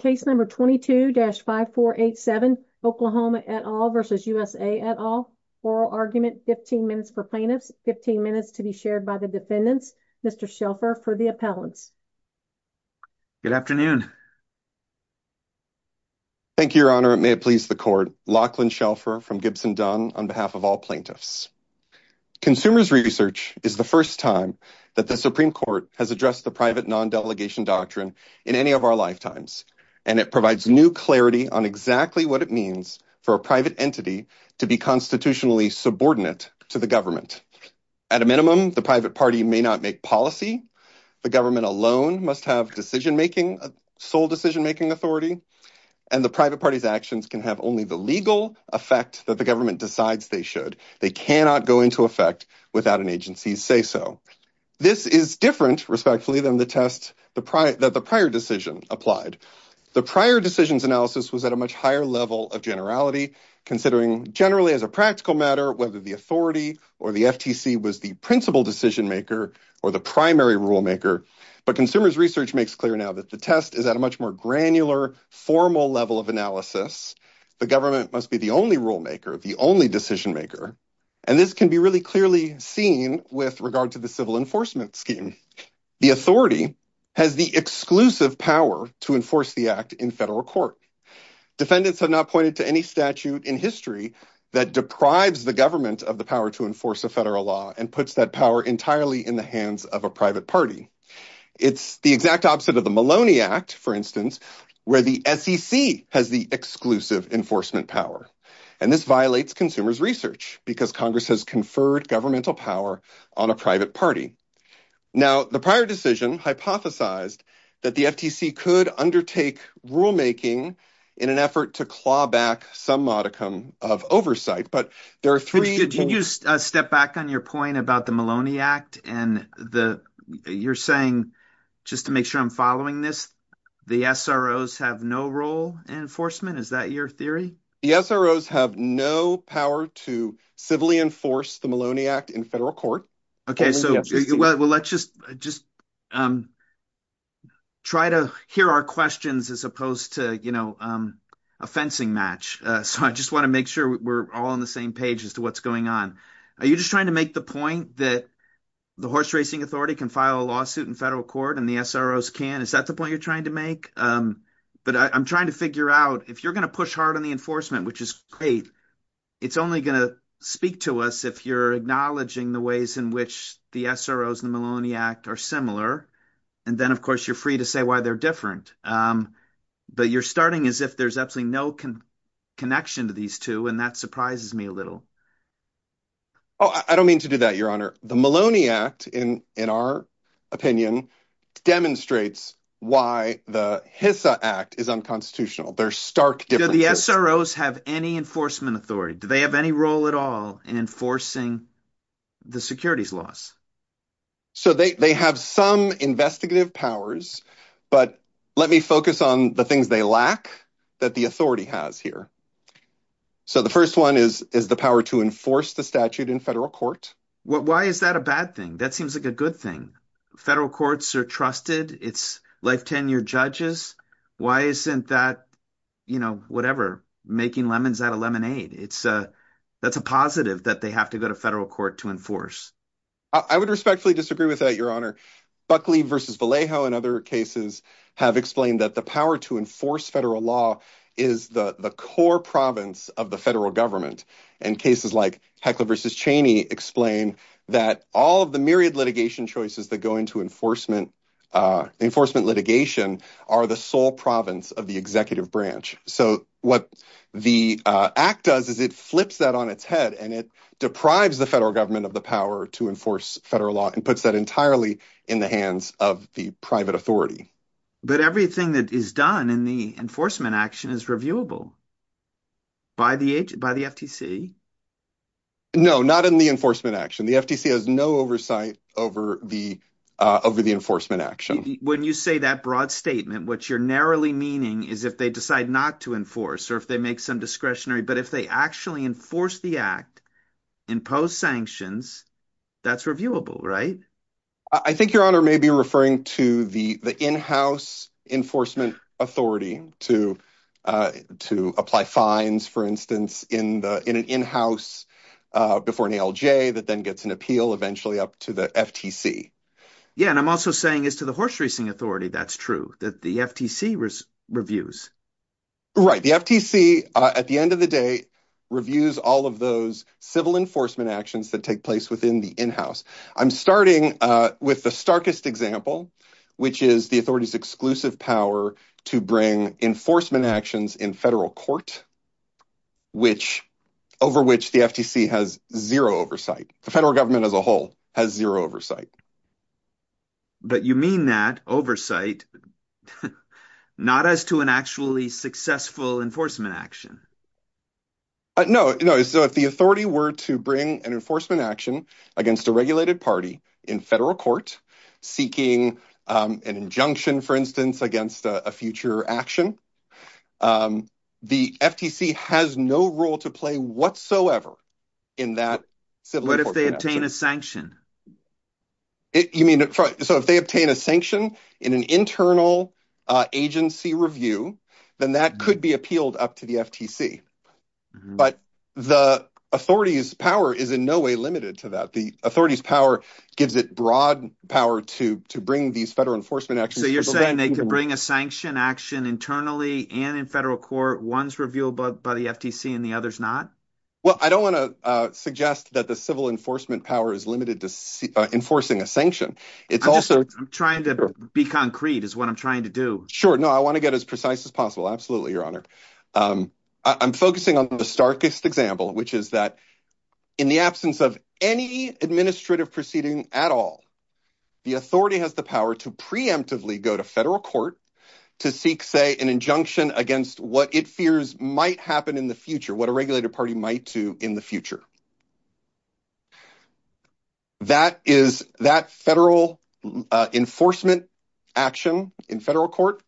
Case number 22-5487, Oklahoma et al. versus USA et al. Oral argument, 15 minutes for plaintiffs, 15 minutes to be shared by the defendants. Mr. Shelfer for the appellants. Good afternoon. Thank you, Your Honor, and may it please the Court. Lachlan Shelfer from Gibson Dunn on behalf of all plaintiffs. Consumers research is the first time that the Supreme Court has addressed the private non-delegation doctrine in any of our lifetimes, and it provides new clarity on exactly what it means for a private entity to be constitutionally subordinate to the government. At a minimum, the private party may not make policy. The government alone must have decision-making, sole decision-making authority, and the private party's actions can have only the legal effect that the government decides they should. They cannot go into effect without an agency's say-so. This is different, respectfully, than the test that the prior decision applied. The prior decisions analysis was at a much higher level of generality, considering generally as a practical matter whether the authority or the FTC was the principal decision-maker or the primary rulemaker, but consumers research makes clear now that the test is at a much more granular, formal level of analysis. The government must be the only rulemaker, the only decision-maker, and this can be really clearly seen with regard to the civil enforcement scheme. The authority has the exclusive power to enforce the act in federal court. Defendants have not pointed to any statute in history that deprives the government of the power to enforce a federal law and puts that power entirely in the hands of a private party. It's the exact opposite of the Maloney Act, for instance, where the SEC has the exclusive enforcement power, and this violates consumers research because Congress has conferred governmental power on a private party. Now the prior decision hypothesized that the FTC could undertake rulemaking in an effort to claw back some modicum of oversight, but there are three... Could you step back on your point about the Maloney Act and the... you're saying, just to make sure I'm following this, the SROs have no role in enforcement? Is that your theory? The SROs have no power to civilly enforce the Maloney Act in federal court. Okay, so let's just try to hear our questions as opposed to, you know, a fencing match. So I just want to make sure we're all on the same page as to what's going on. Are you just trying to make the point that the horse racing authority can file a lawsuit in federal court and the SROs can't? Is that the point you're trying to make? But I'm trying to figure out, if you're gonna push hard on the enforcement, which is great, it's only gonna speak to us if you're acknowledging the ways in which the SROs and the Maloney Act are similar, and then of course you're free to say why they're different. But you're starting as if there's absolutely no connection to these two, and that surprises me a little. Oh, I don't mean to do that, Your Honor. The Maloney Act in our opinion demonstrates why the HISA Act is unconstitutional. There's stark differences. Do the SROs have any enforcement authority? Do they have any role at all in enforcing the securities laws? So they have some investigative powers, but let me focus on the things they lack that the authority has here. So the first one is the power to enforce the statute in federal court. Why is that a bad thing? That seems like a good thing. Federal courts are trusted. It's life tenure judges. Why isn't that, you know, whatever, making lemons out of lemonade? That's a positive that they have to go to federal court to enforce. I would respectfully disagree with that, Your Honor. Buckley v. Vallejo and other cases have explained that the power to enforce federal law is the the core province of the federal government. And cases like Heckler v. Cheney explain that all of the myriad litigation choices that go into enforcement enforcement litigation are the sole province of the executive branch. So what the act does is it flips that on its head and it deprives the federal government of the power to enforce federal law and puts that entirely in the hands of the private authority. But everything that is done in the enforcement action is reviewable by the agency, by the FTC. No, not in the enforcement action. The FTC has no oversight over the enforcement action. When you say that broad statement, what you're narrowly meaning is if they decide not to enforce or if they make some discretionary, but if they actually enforce the act, impose sanctions, that's reviewable, right? I think, Your Honor, may be referring to the in-house enforcement authority to apply fines, for instance, in an in-house before an ALJ that then gets an appeal eventually up to the FTC. Yeah, and I'm also saying is to the horse racing authority that's true, that the FTC reviews. Right, the FTC, at the end of the day, reviews all of those civil enforcement actions that take place within the in-house. I'm starting with the starkest example, which is the authority's exclusive power to bring enforcement actions in federal court, over which the FTC has zero oversight. The federal government as a whole has zero oversight. But you mean that, oversight, not as to an actually successful enforcement action. No, so if the authority were to bring an enforcement action against a regulated party in federal court seeking an injunction, for instance, against a future action, the FTC has no role to play whatsoever in that. What if they obtain a sanction? You mean, so if they obtain a sanction in an internal agency review, then that could be appealed up to the FTC. But the authority's power is in no way limited to that. The authority's gives it broad power to bring these federal enforcement actions. So you're saying they can bring a sanction action internally and in federal court, one's reviewed by the FTC and the other's not? Well, I don't want to suggest that the civil enforcement power is limited to enforcing a sanction. It's also... I'm trying to be concrete, is what I'm trying to do. Sure, no, I want to get as precise as possible. Absolutely, Your Honor. I'm focusing on the starkest example, which is that in the absence of any administrative proceeding at all, the authority has the power to preemptively go to federal court to seek, say, an injunction against what it fears might happen in the future, what a regulated party might do in the future. That is, that federal enforcement action in federal court,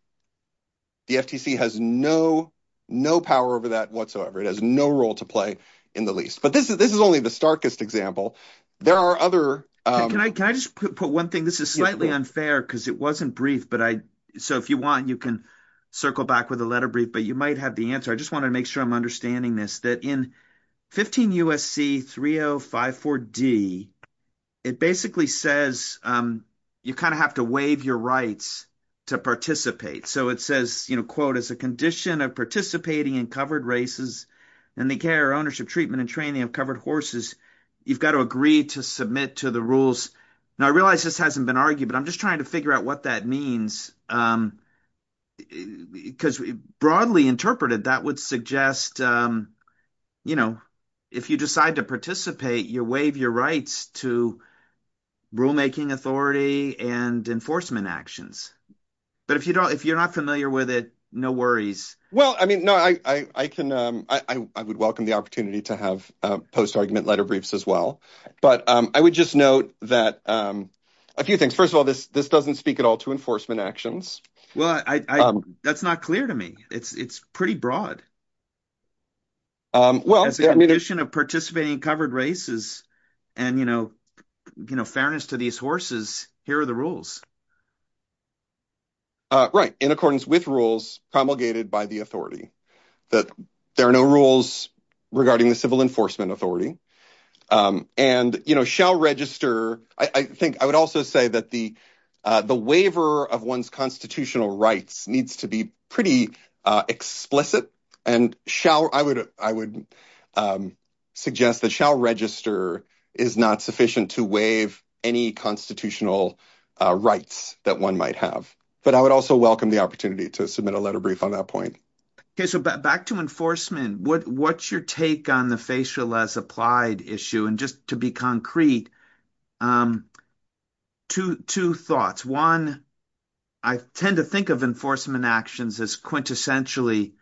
the FTC has no, no power over that whatsoever. It has no role to in the least. But this is only the starkest example. There are other... Can I just put one thing? This is slightly unfair because it wasn't brief, but I... So if you want, you can circle back with a letter brief, but you might have the answer. I just want to make sure I'm understanding this, that in 15 U.S.C. 3054D, it basically says you kind of have to waive your rights to participate. So it says, you know, quote, as a condition of participating in covered races and the care, ownership, treatment and training of covered horses, you've got to agree to submit to the rules. Now, I realize this hasn't been argued, but I'm just trying to figure out what that means. Because broadly interpreted, that would suggest, you know, if you decide to participate, you waive your rights to rulemaking authority and enforcement actions. But if you don't, if you're not familiar with it, no worries. Well, I mean, no, I would welcome the opportunity to have post-argument letter briefs as well. But I would just note that a few things. First of all, this doesn't speak at all to enforcement actions. Well, that's not clear to me. It's pretty broad. Well, as a condition of participating in covered races and, you know, fairness to these horses, here are the rules. Right. In accordance with rules promulgated by the authority that there are no rules regarding the civil enforcement authority and, you know, shall register. I think I would also say that the the waiver of one's constitutional rights needs to be pretty explicit and shall I would I would suggest that shall register is not that one might have. But I would also welcome the opportunity to submit a letter brief on that point. OK, so back to enforcement, what's your take on the facial as applied issue? And just to be concrete, two thoughts. One, I tend to think of enforcement actions as quintessentially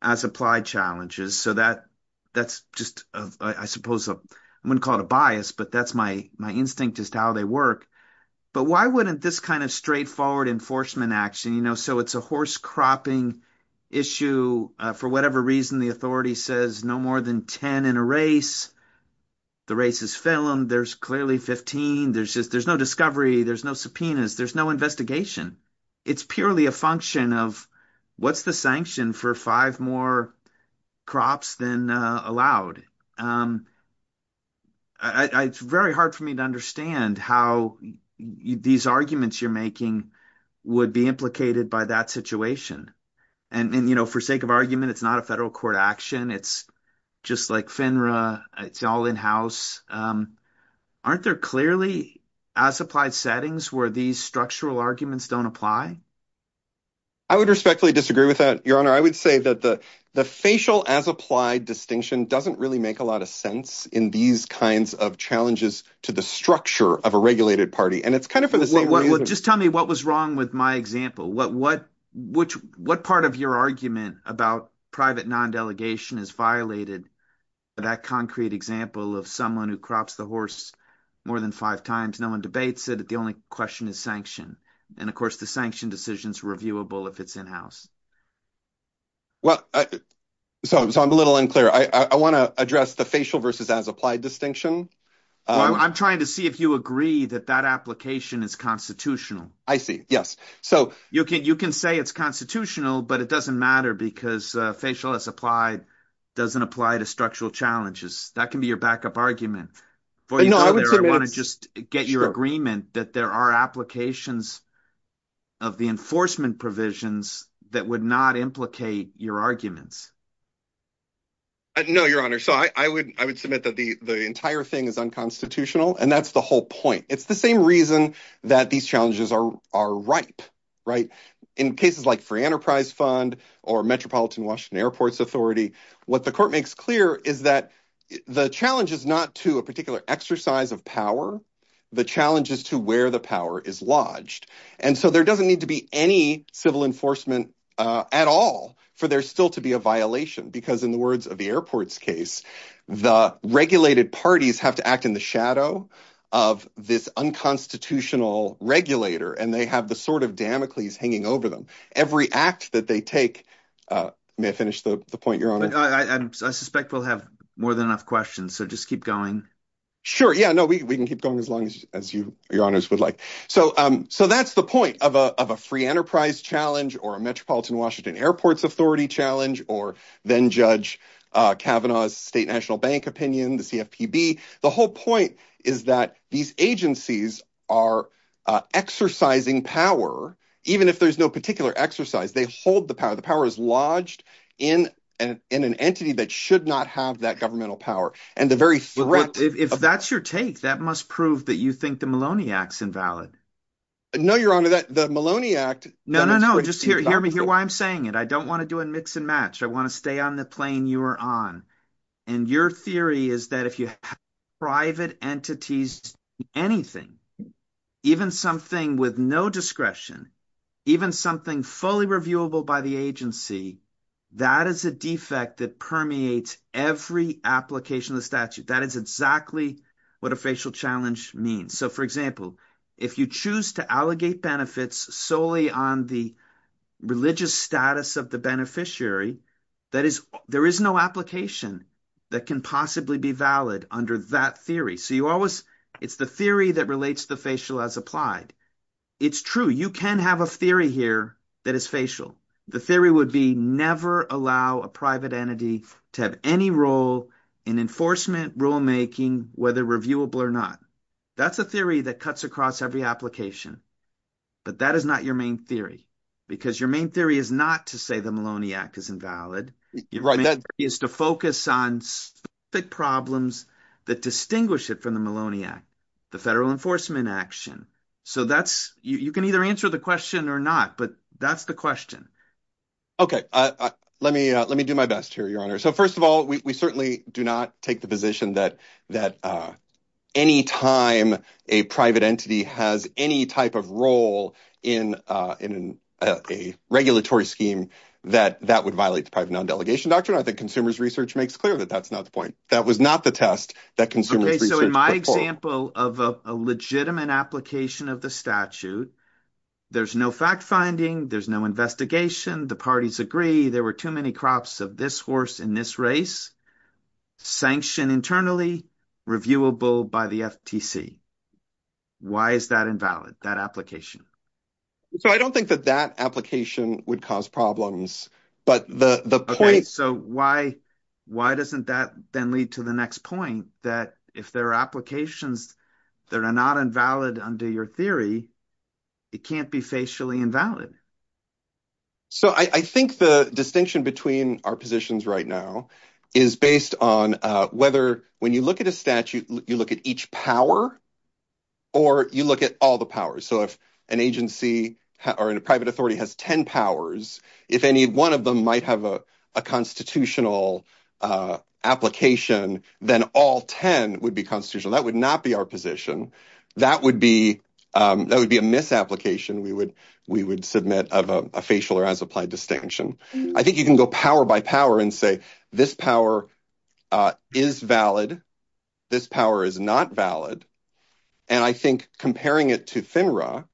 as applied challenges. So that that's just I suppose I wouldn't call it a bias, but that's my my instinct is how they work. But why wouldn't this kind of straightforward enforcement action, you know, so it's a horse cropping issue for whatever reason. The authority says no more than 10 in a race. The race is filmed, there's clearly 15, there's just there's no discovery, there's no subpoenas, there's no investigation. It's purely a function of what's the sanction for five more crops than allowed. It's very hard for me to understand how these arguments you're making would be implicated by that situation. And, you know, for sake of argument, it's not a federal court action. It's just like FINRA, it's all in-house. Aren't there clearly as applied settings where these structural arguments don't apply? I would respectfully disagree with that, Your Honor, I would say that the the facial as applied distinction doesn't really make a lot of sense in these kinds of challenges to the structure of a regulated party. And it's kind of just tell me what was wrong with my example. What what which what part of your argument about private non-delegation is violated? But that concrete example of someone who crops the horse more than five times, no one debates it, the only question is sanction. And of course, the sanction decision is reviewable if it's in-house. Well, so I'm a little unclear. I want to address the facial versus as applied distinction. I'm trying to see if you agree that that application is constitutional. I see. Yes. So you can you can say it's constitutional, but it doesn't matter because facial as applied doesn't apply to structural challenges. That can be your backup argument. For you, I want to just get your agreement that there are applications of the that would not implicate your arguments. No, your honor, so I would I would submit that the the entire thing is unconstitutional, and that's the whole point. It's the same reason that these challenges are are ripe. Right. In cases like free enterprise fund or Metropolitan Washington Airports Authority, what the court makes clear is that the challenge is not to a particular exercise of power. The challenge is to where the power is lodged. And so there doesn't need to be any civil enforcement at all for there still to be a violation, because in the words of the airport's case, the regulated parties have to act in the shadow of this unconstitutional regulator. And they have the sort of Damocles hanging over them. Every act that they take may finish the point. Your honor, I suspect we'll have more than enough questions. So just keep going. Sure. Yeah, no, we can keep going as long as you your honors would like. So so that's the point of of a free enterprise challenge or a Metropolitan Washington Airports Authority challenge or then Judge Kavanaugh's state national bank opinion, the CFPB. The whole point is that these agencies are exercising power, even if there's no particular exercise, they hold the power. The power is lodged in an in an entity that should not have that governmental power and the very threat. If that's your take, that must prove that you think the Maloney acts invalid. No, your honor, that the Maloney act. No, no, no. Just hear me. Hear why I'm saying it. I don't want to do a mix and match. I want to stay on the plane you are on. And your theory is that if you have private entities, anything, even something with no discretion, even something fully reviewable by the agency, that is a defect that permeates every application of the statute. That is exactly what a facial challenge means. So, for example, if you choose to allegate benefits solely on the religious status of the beneficiary, that is, there is no application that can possibly be valid under that theory. So you always it's the theory that relates the facial as applied. It's true. You can have a theory here that is facial. The theory would be never allow a private entity to have any role in enforcement rulemaking, whether reviewable or not. That's a theory that cuts across every application. But that is not your main theory, because your main theory is not to say the Maloney Act is invalid. Right. That is to focus on the problems that distinguish it from the Maloney Act, the federal enforcement action. So that's you can either answer the question or not, but that's the question. OK, let me let me do my best here, your honor. So, first of all, we certainly do not take the position that that any time a private entity has any type of role in in a regulatory scheme, that that would violate the private non-delegation doctrine. I think consumers research makes clear that that's not the point. That was not the test that consumers. So in my example of a legitimate application of the statute, there's no fact finding. There's no investigation. The parties agree there were too many crops of this horse in this race sanctioned internally, reviewable by the FTC. Why is that invalid, that application? So I don't think that that application would cause problems, but the point. So why why doesn't that then lead to the next point, that if there are applications that are not invalid under your theory, it can't be facially invalid? So I think the distinction between our positions right now is based on whether when you look at a statute, you look at each power or you look at all the powers. So if an agency or a private authority has 10 powers, if any one of them might have a constitutional application, then all 10 would be constitutional. That would not be our position. That would be that would be a misapplication. We would we would submit of a facial or as applied distinction. I think you can go power by power and say this power is valid. This power is not valid. And I think comparing it to FINRA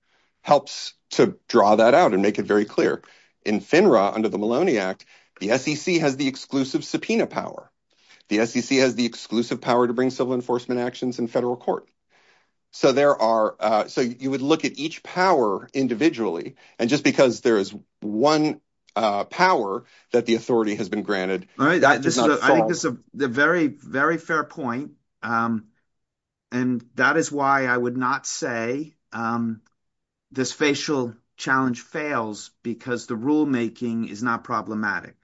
helps to draw that out and make it very clear in FINRA under the Maloney Act, the SEC has the exclusive subpoena power. The SEC has the exclusive power to bring civil enforcement actions in federal court. So there are so you would look at each power individually. And just because there is one power that the authority has been granted. All right. I think this is a very, very fair point. And that is why I would not say this facial challenge fails because the rulemaking is not problematic.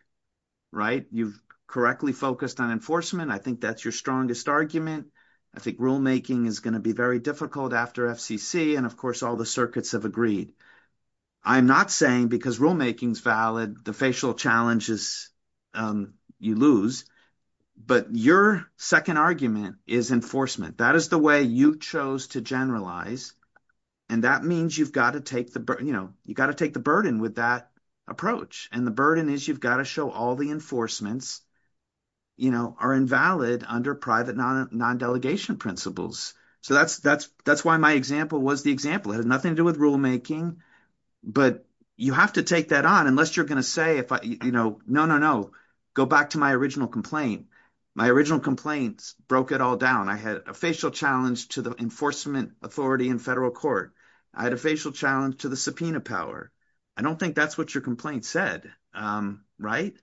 Right. You've correctly focused on enforcement. I think that's your strongest argument. I think rulemaking is going to be very difficult after FCC. And of course, all the circuits have agreed. I'm not saying because rulemaking is valid, the facial challenges you lose. But your second argument is enforcement. That is the way you chose to generalize. And that means you've got to take the burden, you know, you've got to take the burden with that approach. And the burden is you've got to show all the enforcements, you know, are invalid under private non-delegation principles. So that's that's that's why my example was the example. It had nothing to do with rulemaking. But you have to take that on unless you're going to say, you know, no, no, no. Go back to my original complaint. My original complaints broke it all down. I had a facial challenge to the enforcement authority in federal court. I had a facial challenge to the subpoena power. I don't think that's what your complaint said. Right.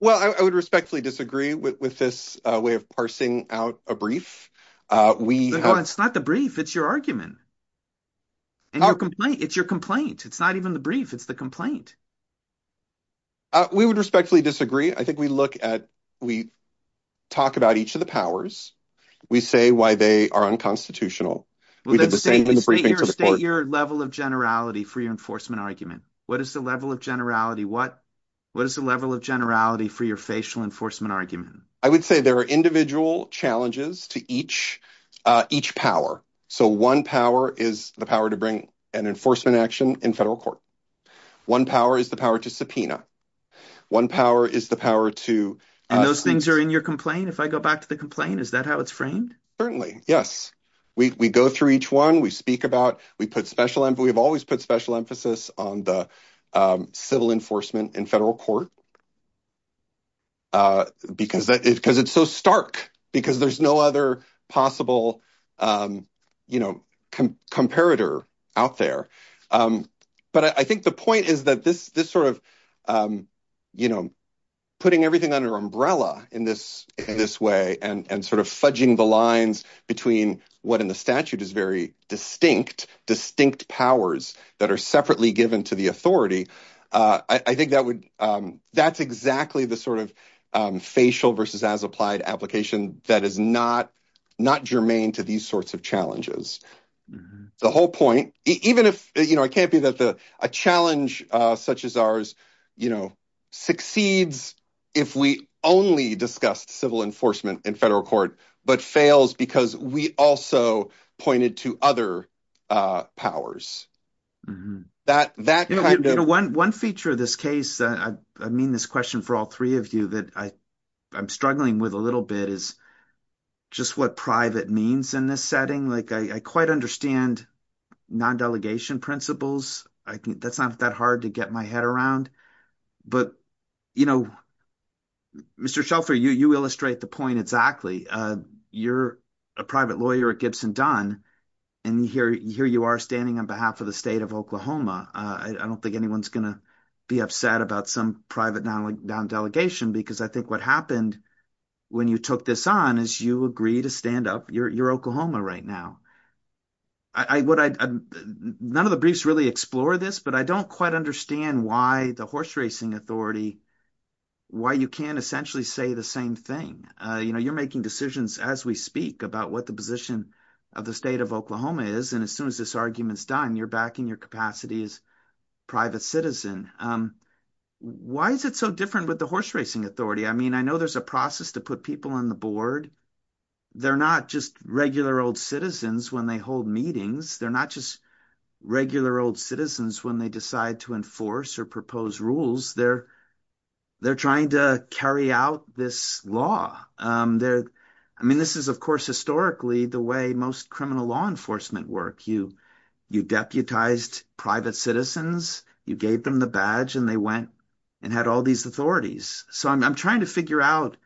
Well, I would respectfully disagree with this way of parsing out a brief. We know it's not the brief. It's your argument. And your complaint, it's your complaint, it's not even the brief, it's the complaint. We would respectfully disagree. I think we look at we talk about each of the powers, we say why they are unconstitutional. We did the same in the briefing. State your level of generality for your enforcement argument. What is the level of generality? What what is the level of generality for your facial enforcement argument? I would say there are individual challenges to each each power. So one power is the power to bring an enforcement action in federal court. One power is the power to subpoena. One power is the power to. And those things are in your complaint. If I go back to the complaint, is that how it's framed? Certainly, yes, we go through each one we speak about, we put special and we have always put special emphasis on the civil enforcement in federal court. Because because it's so stark because there's no other possible, you know, comparator out there. But I think the point is that this this sort of, you know, putting everything under umbrella in this in this way and sort of fudging the lines between what in the statute is very distinct, distinct powers that are separately given to the authority. I think that would that's exactly the sort of facial versus as applied application that is not not germane to these sorts of challenges. The whole point, even if you know, it can't be that a challenge such as ours, you know, succeeds if we only discussed civil enforcement in federal court, but fails because we also pointed to other powers that that kind of one one feature of this case. I mean, this question for all three of you that I I'm struggling with a little bit is just what private means in this setting. Like, I quite understand non-delegation principles. I think that's not that hard to get my head around. But, you know, Mr. Shelfer, you illustrate the point exactly. You're a private lawyer at Gibson Dunn and here you are standing on behalf of the state of Oklahoma. I don't think anyone's going to be upset about some private delegation, because I think what happened when you took this on is you agree to stand up your Oklahoma right now. None of the briefs really explore this, but I don't quite understand why the horse racing authority, why you can't essentially say the same thing. You know, you're making decisions as we speak about what the position of the state of Oklahoma is. And as soon as this argument's done, you're backing your capacity as private citizen. Why is it so different with the horse racing authority? I mean, I know there's a process to put people on the board. They're not just regular old citizens when they hold meetings. They're not just regular old citizens when they decide to enforce or propose rules. They're trying to carry out this law. I mean, this is, of course, historically the way most criminal law enforcement work. You deputized private citizens, you gave them the badge and they went and had all these authorities. So I'm trying to figure out.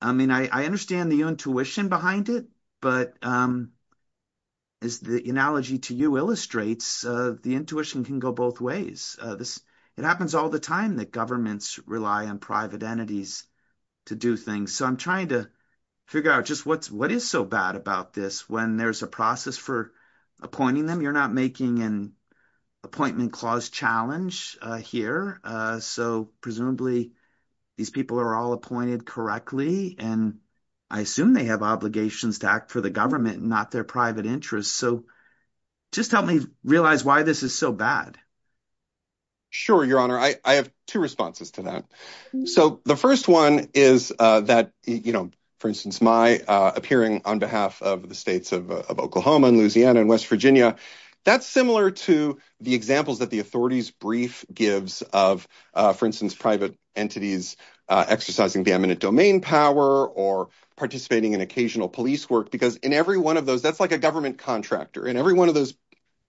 I mean, I understand the intuition behind it, but as the analogy to you illustrates, the intuition can go both ways. It happens all the time that governments rely on private entities to do things. So I'm trying to figure out just what is so bad about this when there's a process for appointing them. You're not making an appointment clause challenge here. So presumably these people are all appointed correctly, and I assume they have obligations to act for the government, not their private interests. So just help me realize why this is so bad. Sure, your honor, I have two responses to that. So the first one is that, for instance, my appearing on behalf of the states of Oklahoma and Louisiana and West Virginia, that's similar to the examples that the authorities brief gives of, for instance, private entities exercising the eminent domain power or participating in occasional police work, because in every one of those, that's like a government contractor in every one of those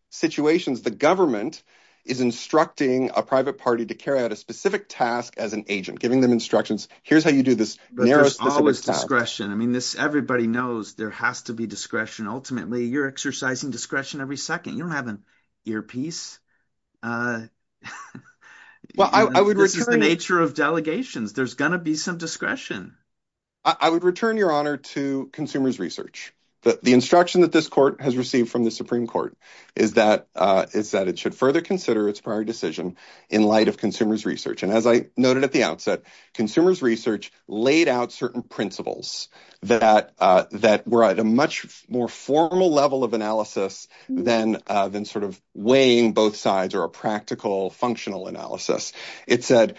situations. The government is instructing a private party to carry out a specific task as an agent, giving them instructions. Here's how you do this. But there's always discretion. I mean, everybody knows there has to be discretion. Ultimately, you're exercising discretion every second. You don't have an earpiece. Well, I would return to the nature of delegations. There's going to be some discretion. I would return, your honor, to consumers research that the instruction that this court has received from the Supreme Court is that is that it should further consider its prior decision in light of consumers research. And as I noted at the outset, consumers research laid out certain principles that that a much more formal level of analysis than than sort of weighing both sides or a practical functional analysis. It said,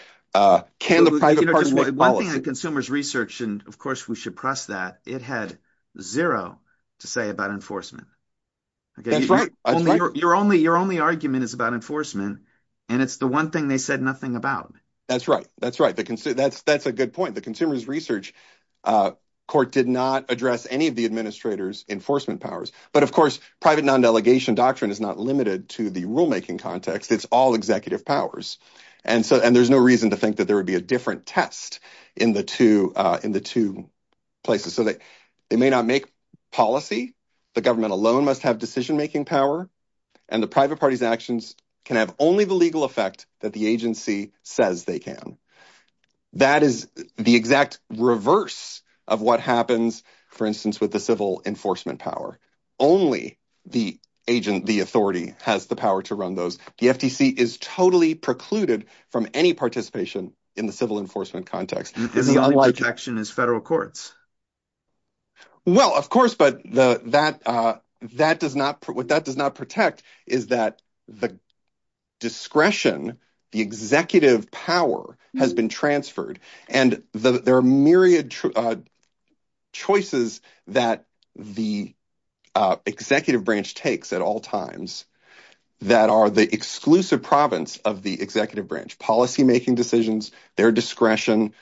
can the private consumers research? And of course, we should press that it had zero to say about enforcement. Your only your only argument is about enforcement, and it's the one thing they said nothing about. That's right. That's right. That's that's a good point. The consumers research court did not address any of the administrators enforcement powers. But of course, private non-delegation doctrine is not limited to the rulemaking context. It's all executive powers. And so and there's no reason to think that there would be a different test in the two in the two places so that they may not make policy. The government alone must have decision making power and the private party's actions can have only the legal effect that the agency says they can. That is the exact reverse of what happens, for instance, with the civil enforcement power. Only the agent, the authority has the power to run those. The FTC is totally precluded from any participation in the civil enforcement context. This is unlike action as federal courts. Well, of course, but that that does not what that does not protect is that the discretion, the executive power has been transferred and there are myriad choices that the executive branch takes at all times that are the exclusive province of the executive branch policymaking decisions, their discretion,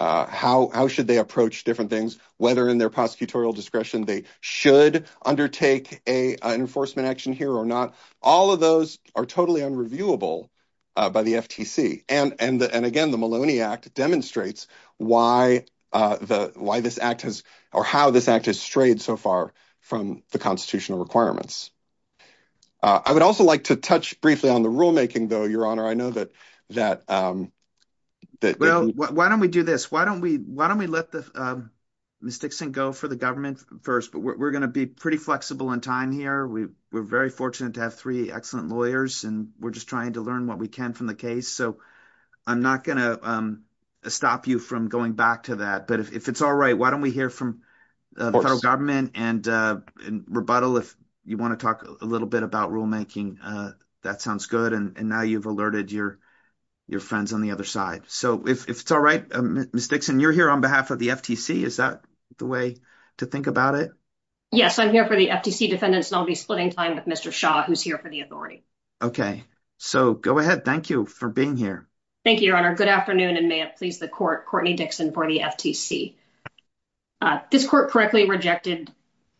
how how should they approach different things, whether in their prosecutorial discretion, they should undertake a enforcement action here or not. All of those are totally unreviewable by the FTC. And and again, the Maloney Act demonstrates why the why this act has or how this act has strayed so far from the constitutional requirements. I would also like to touch briefly on the rulemaking, though, your honor. I know that that well, why don't we do this? Why don't we why don't we let the mistakes and go for the government first? But we're going to be pretty flexible in time here. We were very fortunate to have three excellent lawyers and we're just trying to learn what we can from the case. So I'm not going to stop you from going back to that. But if it's all right, why don't we hear from the federal government and rebuttal? If you want to talk a little bit about rulemaking, that sounds good. And now you've alerted your your friends on the other side. So if it's all right, mistakes and you're here on behalf of the FTC, is that the way to think about it? Yes, I'm here for the FTC defendants. And I'll be splitting time with Mr. Shaw, who's here for the authority. OK, so go ahead. Thank you for being here. Thank you, your honor. Good afternoon. And may it please the court. Courtney Dixon for the FTC. This court correctly rejected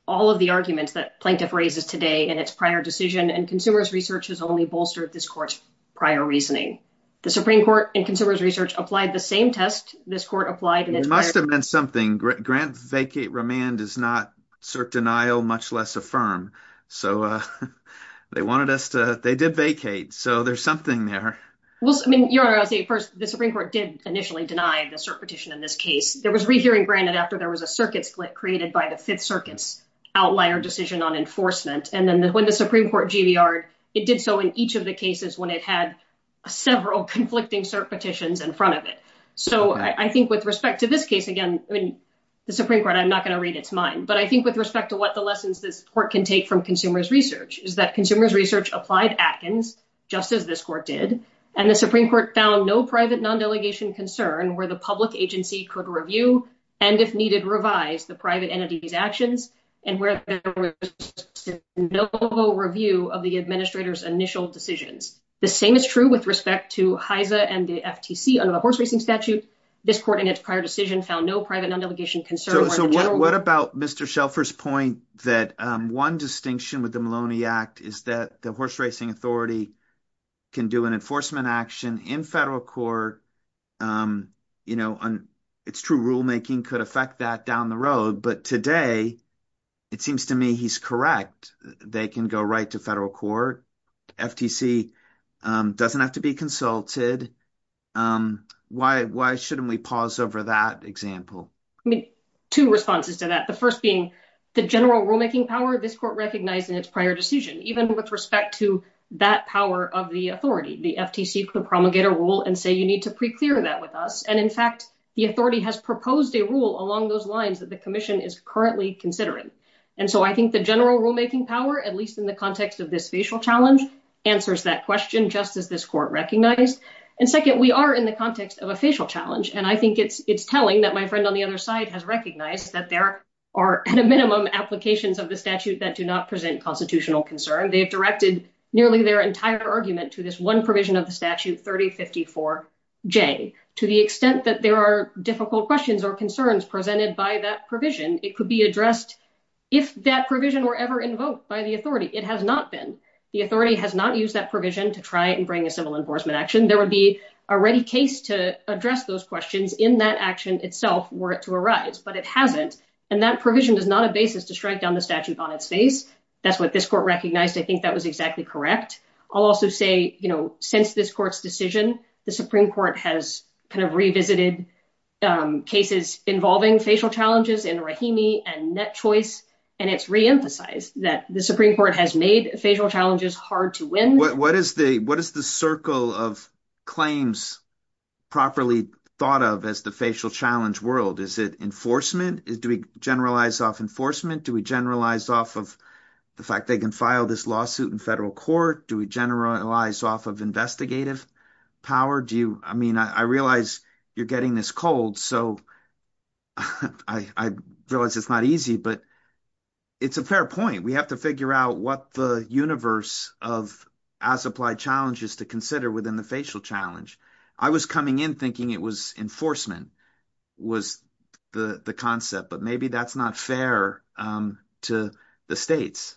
all of the arguments that plaintiff raises today in its prior decision, and consumers research has only bolstered this court's prior reasoning. The Supreme Court and consumers research applied the same test. This court applied and it must have meant something. Grant vacate remand is not cert denial, much less affirm. So they wanted us to they did vacate. So there's something there. Well, I mean, you're the first. The Supreme Court did initially deny the cert petition in this case. There was rehearing granted after there was a circuit split created by the Fifth Circuit's outlier decision on enforcement. And then when the Supreme Court GBR, it did so in each of the cases when it had several conflicting cert petitions in front of it. So I think with respect to this case, again, the Supreme Court, I'm not going to read its mind, but I think with respect to what the lessons this court can take from consumers research is that consumers research applied Atkins, just as this court did. And the Supreme Court found no private non-delegation concern where the public agency could review and if needed, revise the private entity's actions and where there was no review of the administrator's initial decisions. The same is true with respect to Heise and the FTC under the horse racing statute. This court in its prior decision found no private non-delegation concern. So what about Mr. Shelford's point that one distinction with the Maloney Act is that the horse racing authority can do an enforcement action in federal court? You know, it's true. Rulemaking could affect that down the road. But today it seems to me he's correct. They can go right to federal court. FTC doesn't have to be consulted. Why why shouldn't we pause over that example? I mean, two responses to that. The first being the general rulemaking power this court recognized in its prior decision, even with respect to that power of the authority, the FTC could promulgate a rule and say you need to preclear that with us. And in fact, the authority has proposed a rule along those lines that the commission is currently considering. And so I think the general rulemaking power, at least in the context of this facial challenge, answers that question, just as this court recognized. And second, we are in the context of a facial challenge. And I think it's it's telling that my friend on the other side has recognized that there are at a minimum applications of the statute that do not present constitutional concern. They have directed nearly their entire argument to this one provision of the statute, 3054 J, to the extent that there are difficult questions or concerns presented by that provision. It could be addressed if that provision were ever invoked by the authority. It has not been. The authority has not used that provision to try and bring a civil enforcement action. There would be a ready case to address those questions in that action itself were it to arise. But it hasn't. And that provision is not a basis to strike down the statute on its face. That's what this court recognized. I think that was exactly correct. I'll also say, you know, since this court's decision, the Supreme Court has kind of revisited cases involving facial challenges in Rahimi and net choice. And it's reemphasized that the Supreme Court has made facial challenges hard to win. What is the what is the circle of claims properly thought of as the facial challenge world? Is it enforcement? Do we generalize off enforcement? Do we generalize off of the fact they can file this lawsuit in federal court? Do we generalize off of investigative power? Do you I mean, I realize you're getting this cold. So I realize it's not easy, but it's a fair point. We have to figure out what the universe of as applied challenges to consider within the facial challenge. I was coming in thinking it was enforcement was the concept, but maybe that's not fair to the states.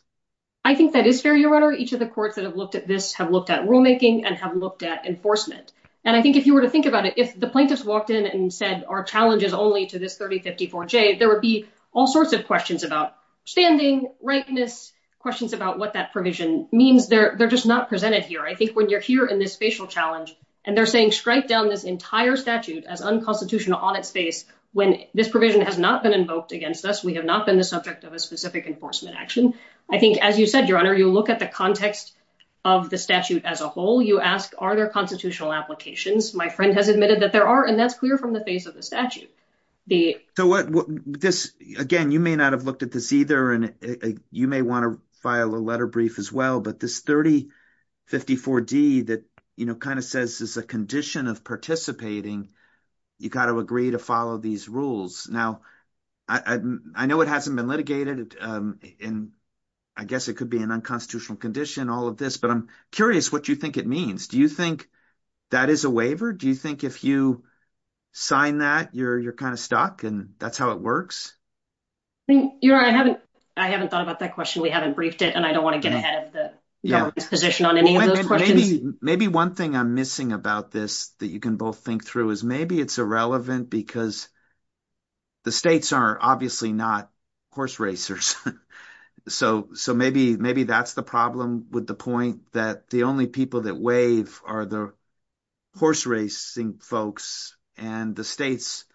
I think that is fair, your honor. Each of the courts that have looked at this have looked at rulemaking and have looked at enforcement. And I think if you were to think about it, if the plaintiffs walked in and said, our challenge is only to this 30, 50, 4J, there would be all sorts of questions about standing rightness, questions about what that provision means. They're just not presented here. I think when you're here in this facial challenge and they're saying, strike down this entire statute as unconstitutional on its face when this provision has not been invoked against us, we have not been the subject of a specific enforcement action. I think, as you said, your honor, you look at the context of the statute as a whole. You ask, are there constitutional applications? My friend has admitted that there are. And that's clear from the face of the statute. So what this again, you may not have looked at this either, and you may want to file a letter brief as well. But this 30, 50, 4D that kind of says is a condition of participating. You got to agree to follow these rules. Now, I know it hasn't been litigated and I guess it could be an unconstitutional condition, all of this. But I'm curious what you think it means. Do you think that is a waiver? Do you think if you sign that you're you're kind of stuck and that's how it works? I mean, you know, I haven't I haven't thought about that question. We haven't briefed it and I don't want to get ahead of the position on any of those questions. Maybe one thing I'm missing about this that you can both think through is maybe it's irrelevant because. The states are obviously not horse racers, so so maybe maybe that's the problem with the point that the only people that waive are the horse racing folks and the states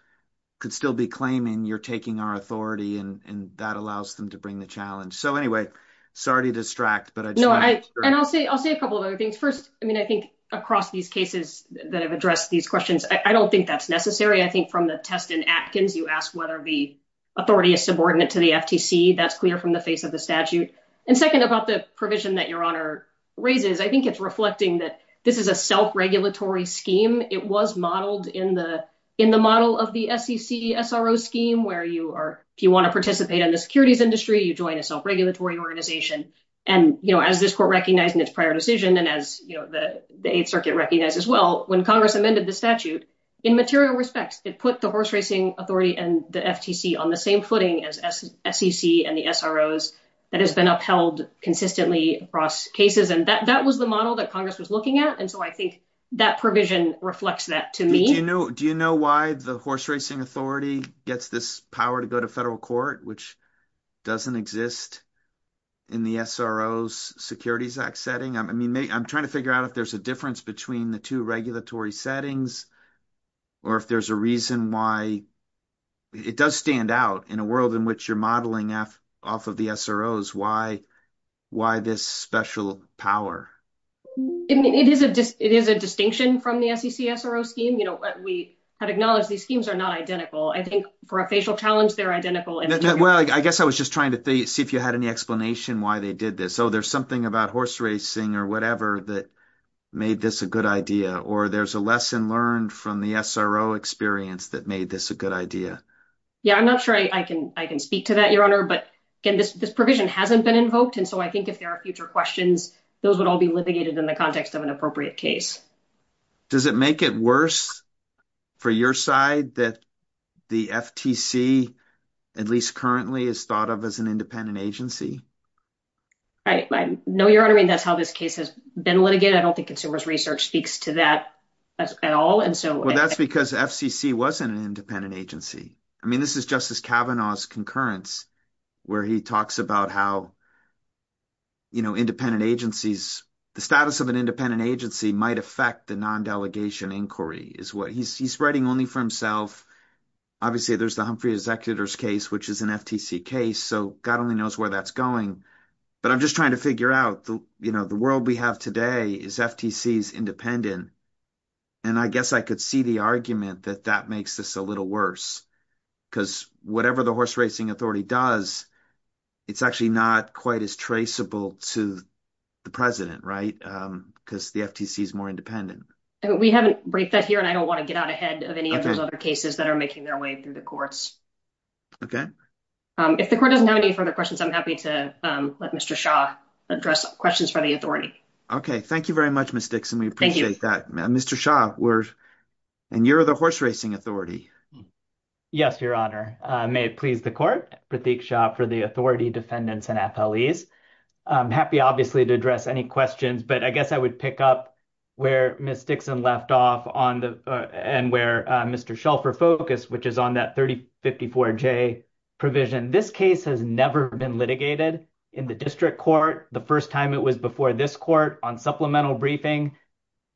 could still be claiming you're taking our authority and that allows them to bring the challenge. So anyway, sorry to distract, but I know I and I'll say I'll say a couple of other things. First, I mean, I think across these cases that have addressed these questions, I don't think that's necessary. I think from the test in Atkins, you ask whether the authority is subordinate to the FTC. That's clear from the face of the statute. And second, about the provision that your honor raises, I think it's reflecting that this is a self-regulatory scheme. It was modeled in the in the model of the SEC SRO scheme where you are if you want to participate in the securities industry, you join a self-regulatory organization. And as this court recognized in its prior decision and as the 8th Circuit recognized as well, when Congress amended the statute in material respects, it put the horse racing authority and the FTC on the same footing as SEC and the SROs that has been upheld consistently across cases. And that was the model that Congress was looking at. And so I think that provision reflects that to me. Do you know do you know why the horse racing authority gets this power to go to federal court, which doesn't exist in the SROs Securities Act setting? I mean, I'm trying to figure out if there's a difference between the two regulatory settings or if there's a reason why it does stand out in a world in which you're modeling off of the SROs. Why why this special power? I mean, it is a it is a distinction from the SEC SRO scheme. You know, we had acknowledged these schemes are not identical. I think for a facial challenge, they're identical. Well, I guess I was just trying to see if you had any explanation why they did this. So there's something about horse racing or whatever that made this a good idea. Or there's a lesson learned from the SRO experience that made this a good idea. Yeah, I'm not sure I can I can speak to that, your honor. But again, this provision hasn't been invoked. And so I think if there are future questions, those would all be litigated in the context of an appropriate case. Does it make it worse for your side that the FTC, at least currently, is thought of as an independent agency? I know you're honoring that's how this case has been litigated. I don't think consumers research speaks to that at all. And so that's because FCC wasn't an independent agency. I mean, this is Justice Kavanaugh's concurrence where he talks about how. You know, independent agencies, the status of an independent agency might affect the non-delegation inquiry is what he's writing only for himself. Obviously, there's the Humphrey executors case, which is an FTC case. So God only knows where that's going. But I'm just trying to figure out, you know, the world we have today is FTC's independent. And I guess I could see the argument that that makes this a little worse because whatever the horse racing authority does, it's actually not quite as traceable to the president. Right. Because the FTC is more independent. We haven't break that here. And I don't want to get out ahead of any of those other cases that are making their way through the courts. OK, if the court doesn't have any further questions, I'm happy to let Mr. Shaw address questions for the authority. OK, thank you very much, Ms. Dixon. We appreciate that. Mr. Shaw, and you're the horse racing authority. Yes, your honor, may it please the court, Pratik Shaw for the authority, defendants and FLEs. I'm happy, obviously, to address any questions, but I guess I would pick up where Ms. Dixon left off and where Mr. Shelfer focused, which is on that 3054J provision. And this case has never been litigated in the district court. The first time it was before this court on supplemental briefing.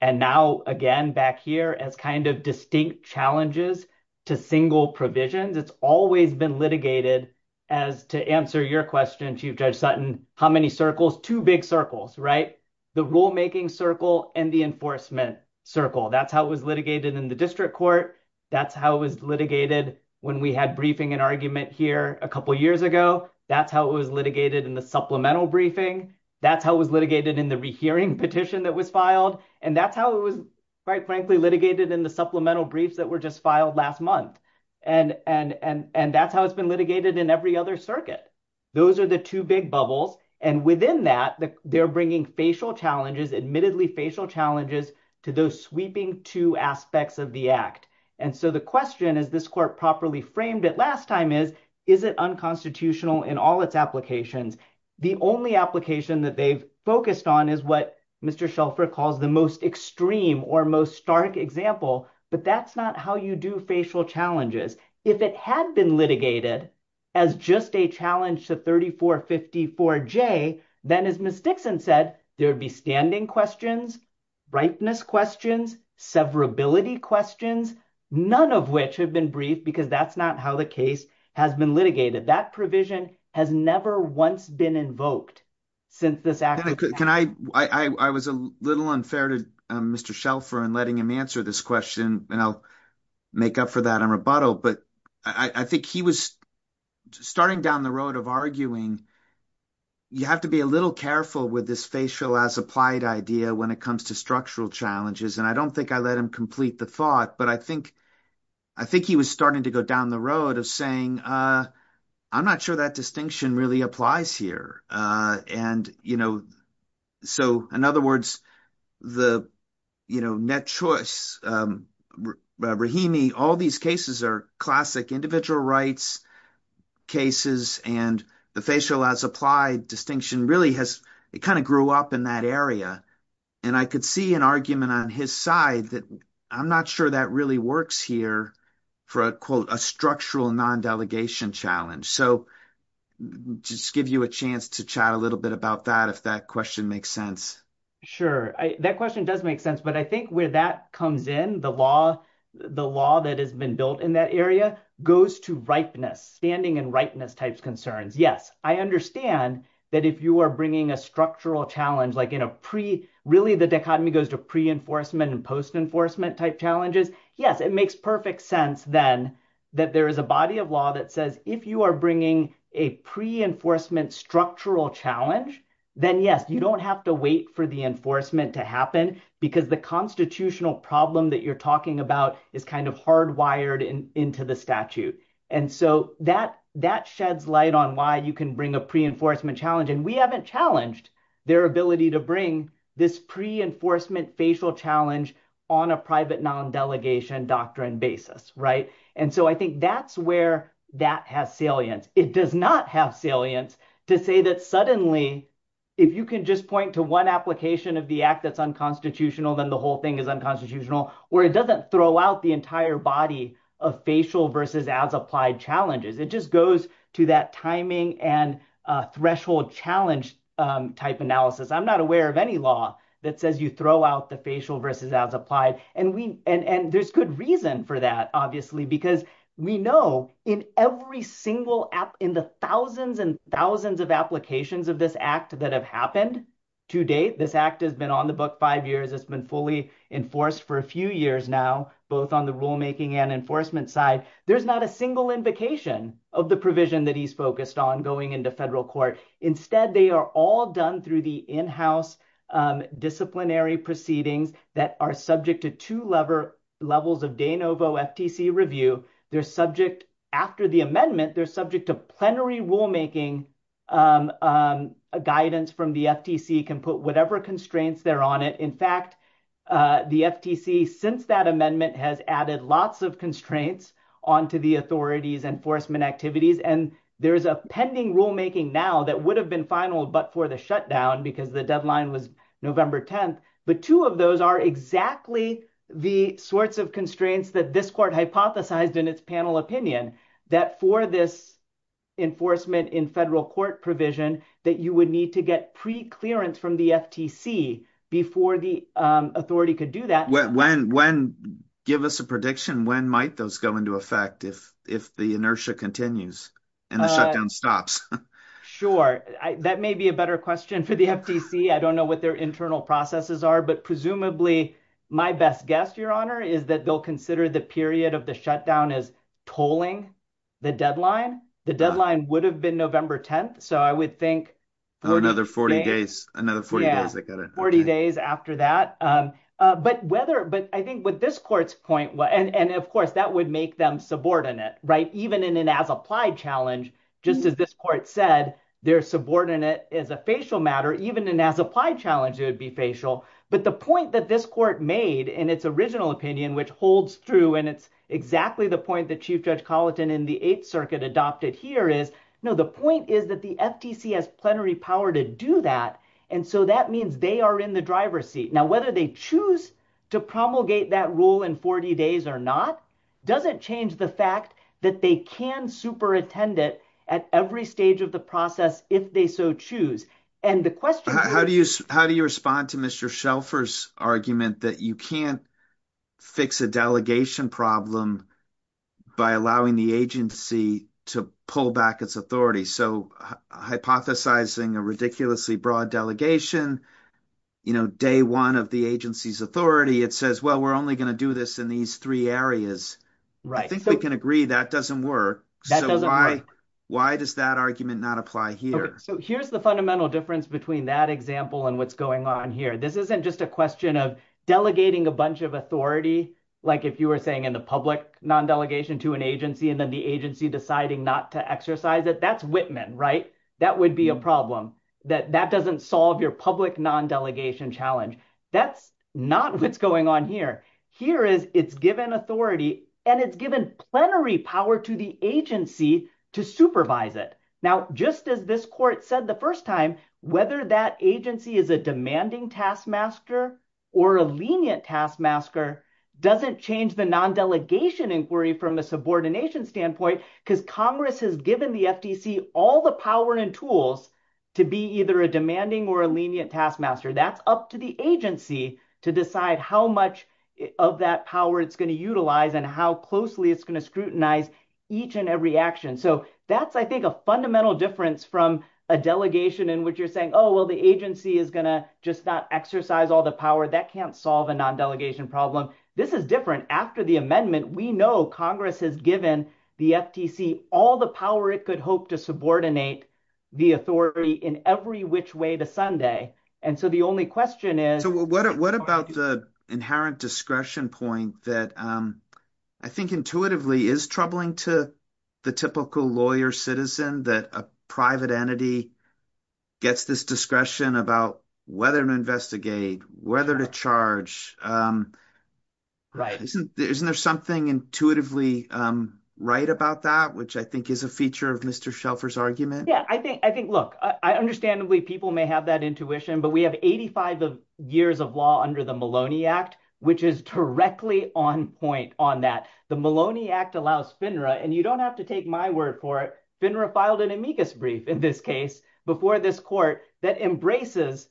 And now, again, back here as kind of distinct challenges to single provisions, it's always been litigated as to answer your question, Chief Judge Sutton, how many circles? Two big circles, right? The rulemaking circle and the enforcement circle. That's how it was litigated in the district court. That's how it was litigated when we had briefing an argument here a couple of years ago. That's how it was litigated in the supplemental briefing. That's how it was litigated in the rehearing petition that was filed. And that's how it was, quite frankly, litigated in the supplemental briefs that were just filed last month. And that's how it's been litigated in every other circuit. Those are the two big bubbles. And within that, they're bringing facial challenges, admittedly facial challenges to those sweeping two aspects of the act. And so the question is, this court properly framed it last time is, is it unconstitutional in all its applications? The only application that they've focused on is what Mr. Shelford calls the most extreme or most stark example. But that's not how you do facial challenges. If it had been litigated as just a challenge to 3454J, then, as Ms. Dixon said, there would be standing questions, brightness questions, severability questions, none of which have been briefed because that's not how the case has been litigated. That provision has never once been invoked since this act. Can I I was a little unfair to Mr. Shelford in letting him answer this question and I'll make up for that in rebuttal. But I think he was starting down the road of arguing. You have to be a little careful with this facial as applied idea when it comes to structural challenges. And I don't think I let him complete the thought. But I think I think he was starting to go down the road of saying, I'm not sure that distinction really applies here. And, you know, so in other words, the, you know, net choice, Rahimi, all these cases are classic individual rights cases. And the facial as applied distinction really has kind of grew up in that area. And I could see an argument on his side that I'm not sure that really works here for a quote, a structural non-delegation challenge. So just give you a chance to chat a little bit about that, if that question makes sense. Sure. That question does make sense. But I think where that comes in, the law, the law that has been built in that area goes to ripeness, standing and ripeness type concerns. Yes, I understand that if you are bringing a structural challenge like in a pre, really, the dichotomy goes to pre-enforcement and post-enforcement type challenges. Yes, it makes perfect sense then that there is a body of law that says if you are bringing a pre-enforcement structural challenge, then yes, you don't have to wait for the enforcement to happen because the constitutional problem that you're talking about is kind of hardwired into the statute. And so that sheds light on why you can bring a pre-enforcement challenge. And we haven't challenged their ability to bring this pre-enforcement facial challenge on a private non-delegation doctrine basis. Right. And so I think that's where that has salience. It does not have salience to say that suddenly, if you can just point to one application of the act that's unconstitutional, then the whole thing is unconstitutional, or it doesn't throw out the entire body of facial versus as-applied challenges. It just goes to that timing and threshold challenge type analysis. I'm not aware of any law that says you throw out the facial versus as-applied, and there's good reason for that, obviously, because we know in every single, in the thousands and thousands of applications of this act that have happened to date, this act has been on the floor for five years, it's been fully enforced for a few years now, both on the rulemaking and enforcement side. There's not a single invocation of the provision that he's focused on going into federal court. Instead, they are all done through the in-house disciplinary proceedings that are subject to two levels of de novo FTC review. They're subject, after the amendment, they're subject to plenary rulemaking guidance from the FTC can put whatever constraints there on it. In fact, the FTC, since that amendment, has added lots of constraints onto the authority's enforcement activities. There's a pending rulemaking now that would have been final, but for the shutdown, because the deadline was November 10th, but two of those are exactly the sorts of constraints that this court hypothesized in its panel opinion, that for this enforcement in federal court provision, that you would need to get pre-clearance from the FTC before the authority could do that. Give us a prediction. When might those go into effect if the inertia continues and the shutdown stops? Sure. That may be a better question for the FTC. I don't know what their internal processes are, but presumably my best guess, Your Honor, is that they'll consider the period of the shutdown as tolling the deadline. The deadline would have been November 10th, so I would think- Another 40 days. Another 40 days, I got it. 40 days after that. But I think what this court's point, and of course, that would make them subordinate, right? Even in an as-applied challenge, just as this court said, they're subordinate as a facial matter. Even in an as-applied challenge, it would be facial. But the point that this court made in its original opinion, which holds true, and it's exactly the point that Chief Judge Colleton in the Eighth Circuit adopted here is, no, the point is that the FTC has plenary power to do that, and so that means they are in the driver's seat. Now, whether they choose to promulgate that rule in 40 days or not doesn't change the fact that they can superintend it at every stage of the process if they so choose. And the question- How do you respond to Mr. Shelfer's argument that you can't fix a delegation problem by allowing the agency to pull back its authority? So hypothesizing a ridiculously broad delegation, day one of the agency's authority, it says, well, we're only going to do this in these three areas. I think we can agree that doesn't work. That doesn't work. Why does that argument not apply here? So here's the fundamental difference between that example and what's going on here. This isn't just a question of delegating a bunch of authority, like if you were saying in the public, non-delegation to an agency, and then the agency deciding not to exercise it. That's Whitman, right? That would be a problem. That doesn't solve your public non-delegation challenge. That's not what's going on here. Here it's given authority, and it's given plenary power to the agency to supervise it. Now, just as this court said the first time, whether that agency is a demanding taskmaster or a lenient taskmaster doesn't change the non-delegation inquiry from a subordination standpoint, because Congress has given the FTC all the power and tools to be either a demanding or a lenient taskmaster. That's up to the agency to decide how much of that power it's going to utilize and how closely it's going to scrutinize each and every action. That's, I think, a fundamental difference from a delegation in which you're saying, oh, well, the agency is going to just not exercise all the power. That can't solve a non-delegation problem. This is different. After the amendment, we know Congress has given the FTC all the power it could hope to subordinate the authority in every which way to Sunday. The only question is— What about the inherent discretion point that I think intuitively is troubling to the typical lawyer citizen that a private entity gets this discretion about whether to investigate, whether to charge. Isn't there something intuitively right about that, which I think is a feature of Mr. Shelfer's argument? Yeah, I think, look, understandably, people may have that intuition, but we have 85 years of law under the Maloney Act, which is directly on point on that. The Maloney Act allows FINRA—and you don't have to take my word for it. FINRA filed an amicus brief in this case before this court that embraces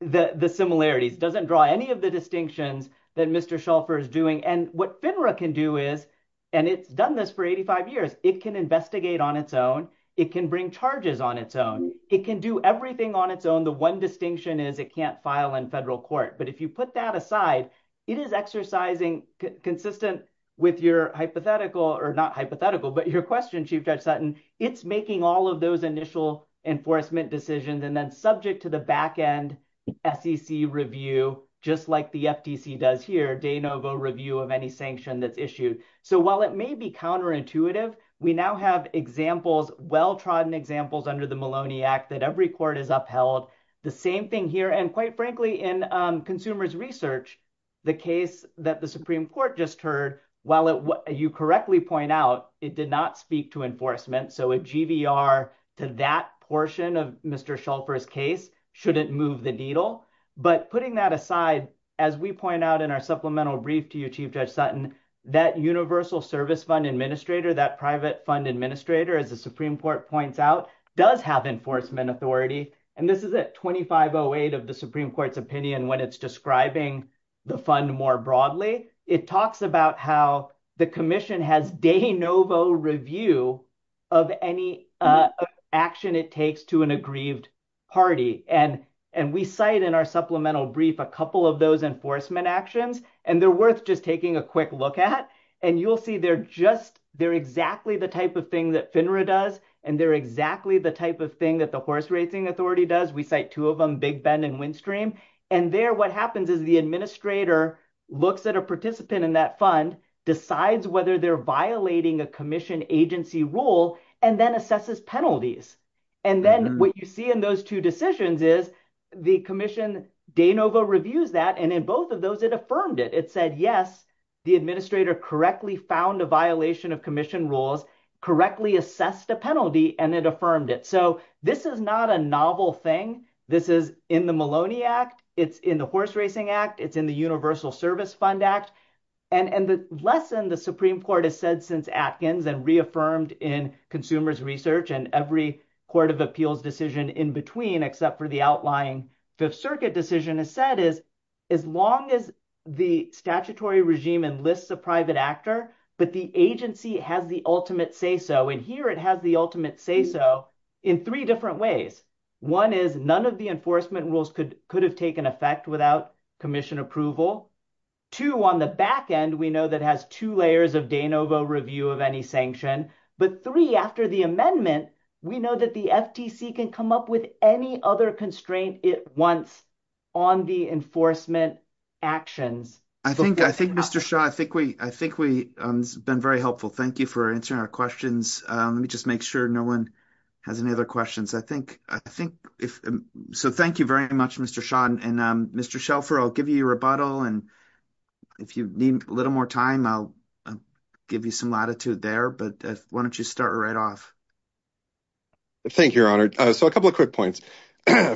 the similarities, doesn't draw any of the distinctions that Mr. Shelfer is doing. And what FINRA can do is—and it's done this for 85 years—it can investigate on its own. It can bring charges on its own. It can do everything on its own. The one distinction is it can't file in federal court. But if you put that aside, it is exercising, consistent with your hypothetical—or not hypothetical, but your question, Chief Judge Sutton—it's making all of those initial enforcement decisions and then subject to the back-end SEC review, just like the FTC does here, de novo review of any sanction that's issued. So while it may be counterintuitive, we now have examples, well-trodden examples under the Maloney Act that every court has upheld. The same thing here. And quite frankly, in consumers' research, the case that the Supreme Court just heard, while you correctly point out, it did not speak to enforcement. So a GVR to that portion of Mr. Shelfer's case shouldn't move the needle. But putting that aside, as we point out in our supplemental brief to you, Chief Judge Sutton, that universal service fund administrator, that private fund administrator, as the Supreme Court points out, does have enforcement authority. And this is at 2508 of the Supreme Court's opinion when it's describing the fund more broadly. It talks about how the commission has de novo review of any action it takes to an aggrieved party. And we cite in our supplemental brief a couple of those enforcement actions, and they're worth just taking a quick look at. And you'll see they're just—they're exactly the type of thing that FINRA does, and they're exactly the type of thing that the horse racing authority does. We cite two of them, Big Bend and Windstream. And there, what happens is the administrator looks at a participant in that fund, decides whether they're violating a commission agency rule, and then assesses penalties. And then what you see in those two decisions is the commission de novo reviews that, and in both of those, it affirmed it. It said, yes, the administrator correctly found a violation of commission rules, correctly assessed a penalty, and it affirmed it. So this is not a novel thing. This is in the Maloney Act. It's in the Horse Racing Act. It's in the Universal Service Fund Act. And the lesson the Supreme Court has said since Atkins and reaffirmed in consumers research and every court of appeals decision in between, except for the outlying Fifth Circuit decision, has said is, as long as the statutory regime enlists a private actor, but the agency has the ultimate say-so, and here it has the ultimate say-so in three different ways. One is none of the enforcement rules could have taken effect without commission approval. Two, on the back end, we know that has two layers of de novo review of any sanction. But three, after the amendment, we know that the FTC can come up with any other constraint it wants on the enforcement actions. I think, Mr. Shaw, I think we've been very helpful. Thank you for answering our questions. Let me just make sure no one has any other questions. So thank you very much, Mr. Shaw. And Mr. Shelfer, I'll give you your rebuttal. And if you need a little more time, I'll give you some latitude there. But why don't you start right off? Thank you, Your Honor. So a couple of quick points.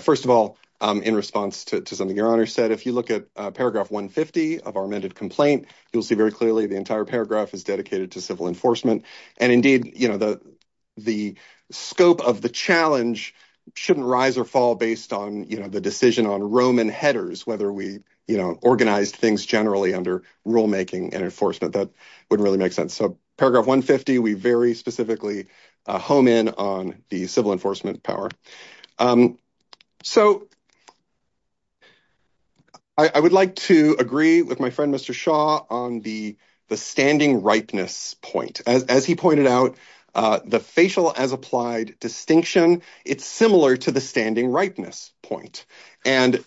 First of all, in response to something Your Honor said, if you look at paragraph 150, of our amended complaint, you'll see very clearly the entire paragraph is dedicated to civil enforcement. And indeed, the scope of the challenge shouldn't rise or fall based on the decision on Roman headers, whether we organized things generally under rulemaking and enforcement. That wouldn't really make sense. So paragraph 150, we very specifically home in on the civil enforcement power. So I would like to agree with my friend, Mr. Shaw, on the standing ripeness point. As he pointed out, the facial as applied distinction, it's similar to the standing ripeness point. And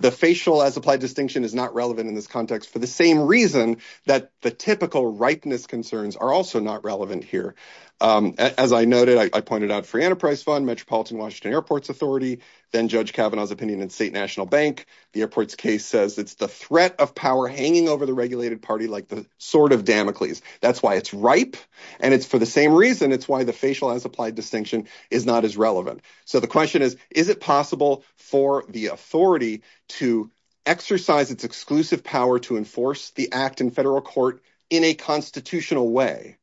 the facial as applied distinction is not relevant in this context for the same reason that the typical ripeness concerns are also not relevant here. As I noted, I pointed out Free Enterprise Fund, Metropolitan Washington Airports Authority, then Judge Kavanaugh's opinion in State National Bank. The airport's case says it's the threat of power hanging over the regulated party like the sword of Damocles. That's why it's ripe. And it's for the same reason. It's why the facial as applied distinction is not as relevant. So the question is, is it possible for the authority to exercise its exclusive power to enforce the act in federal court in a constitutional way?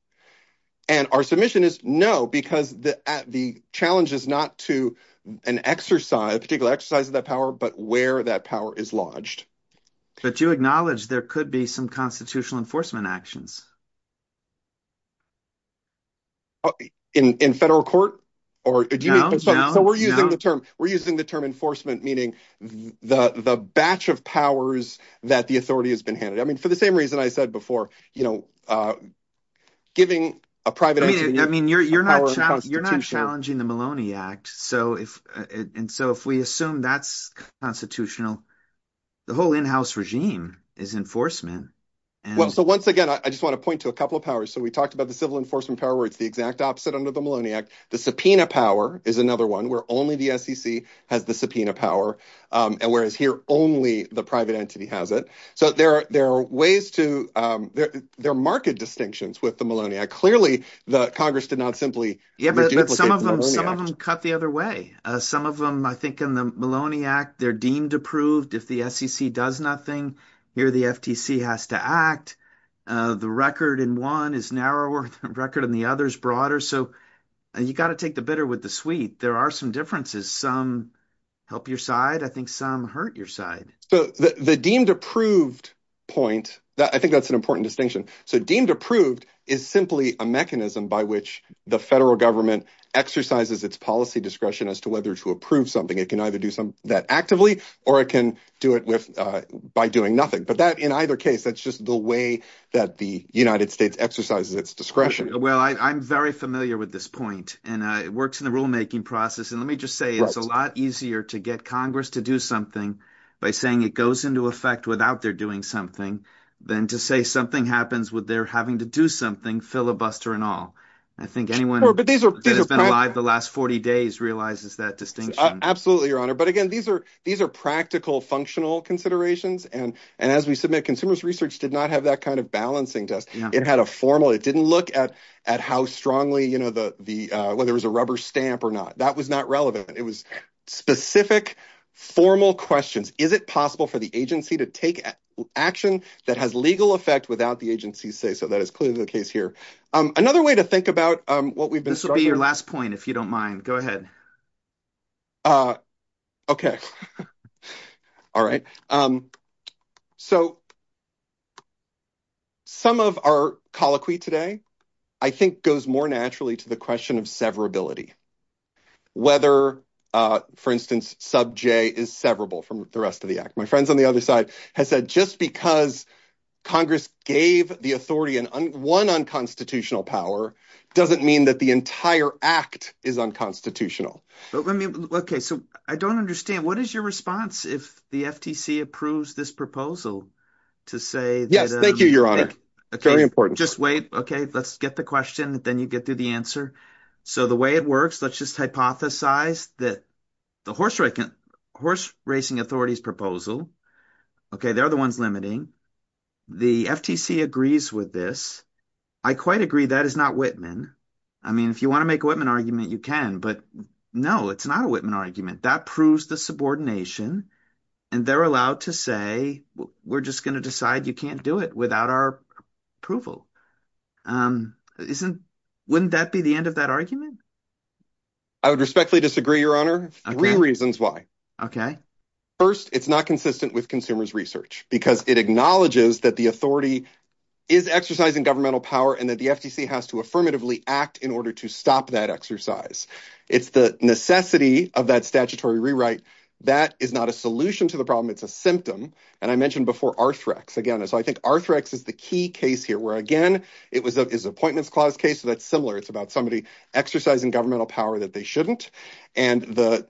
And our submission is no, because the challenge is not to an exercise, a particular exercise of that power, but where that power is lodged. But you acknowledge there could be some constitutional enforcement actions. In federal court? So we're using the term. We're using the term enforcement, meaning the batch of powers that the authority has been handed. For the same reason I said before, giving a private entity. I mean, you're not challenging the Maloney Act. And so if we assume that's constitutional, the whole in-house regime is enforcement. Well, so once again, I just want to point to a couple of powers. So we talked about the civil enforcement power where it's the exact opposite under the Maloney Act. The subpoena power is another one where only the SEC has the subpoena power, whereas here only the private entity has it. So there are ways to, there are marked distinctions with the Maloney Act. Clearly, the Congress did not simply. Yeah, but some of them cut the other way. Some of them, I think in the Maloney Act, they're deemed approved if the SEC does nothing. Here the FTC has to act. The record in one is narrower than the record in the other is broader. So you got to take the bitter with the sweet. There are some differences. Some help your side. I think some hurt your side. So the deemed approved point that I think that's an important distinction. So deemed approved is simply a mechanism by which the federal government exercises its policy discretion as to whether to approve something. It can either do some that actively or it can do it with by doing nothing. But that in either case, that's just the way that the United States exercises its discretion. Well, I'm very familiar with this point and it works in the rulemaking process. Let me just say it's a lot easier to get Congress to do something by saying it goes into effect without their doing something than to say something happens with their having to do something filibuster and all. I think anyone who has been alive the last 40 days realizes that distinction. Absolutely, Your Honor. But again, these are practical, functional considerations. As we submit, consumers research did not have that kind of balancing test. It had a formal. It didn't look at how strongly, whether it was a rubber stamp or not. That was not relevant. It was specific, formal questions. Is it possible for the agency to take action that has legal effect without the agency say so? That is clearly the case here. Another way to think about what we've been... This will be your last point, if you don't mind. Go ahead. Okay. All right. So some of our colloquy today, I think, goes more naturally to the question of severability. Whether, for instance, Sub J is severable from the rest of the act. My friends on the other side has said just because Congress gave the authority and one unconstitutional power doesn't mean that the entire act is unconstitutional. So I don't understand. What is your response if the FTC approves this proposal to say... Thank you, Your Honor. Very important. Just wait. Okay. Let's get the question. Then you get to the answer. So the way it works, let's just hypothesize that the Horse Racing Authority's proposal. Okay. They're the ones limiting. The FTC agrees with this. I quite agree that is not Whitman. I mean, if you want to make a Whitman argument, you can. But no, it's not a Whitman argument. That proves the subordination. And they're allowed to say, we're just going to decide you can't do it without our approval. Wouldn't that be the end of that argument? I would respectfully disagree, Your Honor. Three reasons why. First, it's not consistent with consumers research because it acknowledges that the authority is exercising governmental power and that the FTC has to affirmatively act in order to stop that exercise. It's the necessity of that statutory rewrite. That is not a solution to the problem. It's a symptom. And I mentioned before Arthrex again. I think Arthrex is the key case here where, again, it was an Appointments Clause case. That's similar. It's about somebody exercising governmental power that they shouldn't. And the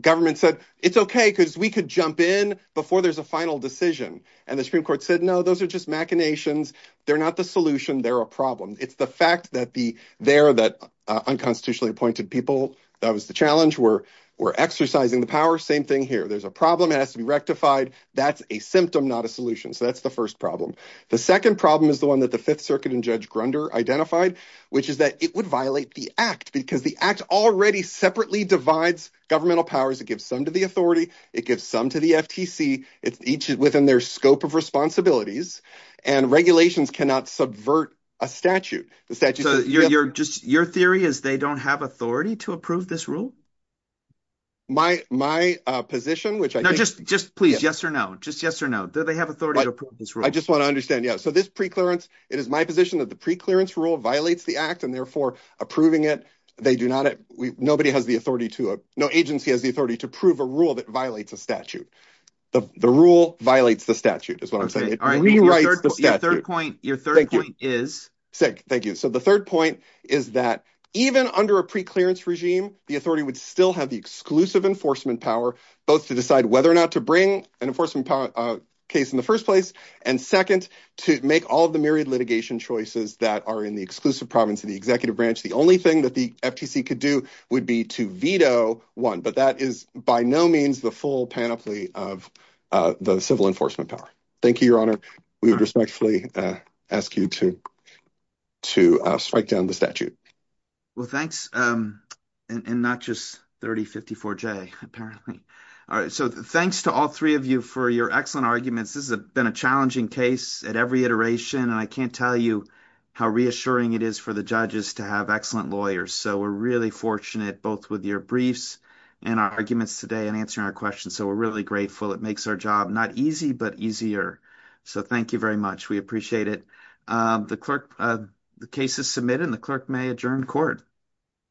government said, it's okay because we could jump in before there's a final decision. And the Supreme Court said, no, those are just machinations. They're not the solution. They're a problem. It's the fact that the there that unconstitutionally appointed people. That was the challenge. We're exercising the power. Same thing here. There's a problem. It has to be rectified. That's a symptom, not a solution. So that's the first problem. The second problem is the one that the Fifth Circuit and Judge Grunder identified, which is that it would violate the act because the act already separately divides governmental powers. It gives some to the authority. It gives some to the FTC. It's each within their scope of responsibilities. And regulations cannot subvert a statute. The statute. So you're just your theory is they don't have authority to approve this rule. My my position, which I just just please. Yes or no. Just yes or no. They have authority. I just want to understand. Yeah, so this preclearance, it is my position that the preclearance rule violates the act and therefore approving it. They do not. Nobody has the authority to no agency has the authority to prove a rule that violates a statute. The rule violates the statute is what I'm saying. It rewrites the third point. Your third point is sick. Thank you. So the third point is that even under a preclearance regime, the authority would still have the case in the first place and second to make all of the myriad litigation choices that are in the exclusive province of the executive branch. The only thing that the FTC could do would be to veto one. But that is by no means the full panoply of the civil enforcement power. Thank you, Your Honor. We respectfully ask you to to strike down the statute. Well, thanks. And not just 3054 J, apparently. All right. So thanks to all three of you for your excellent arguments. This has been a challenging case at every iteration, and I can't tell you how reassuring it is for the judges to have excellent lawyers. So we're really fortunate, both with your briefs and our arguments today and answering our questions. So we're really grateful. It makes our job not easy, but easier. So thank you very much. We appreciate it. The clerk, the case is submitted and the clerk may adjourn court.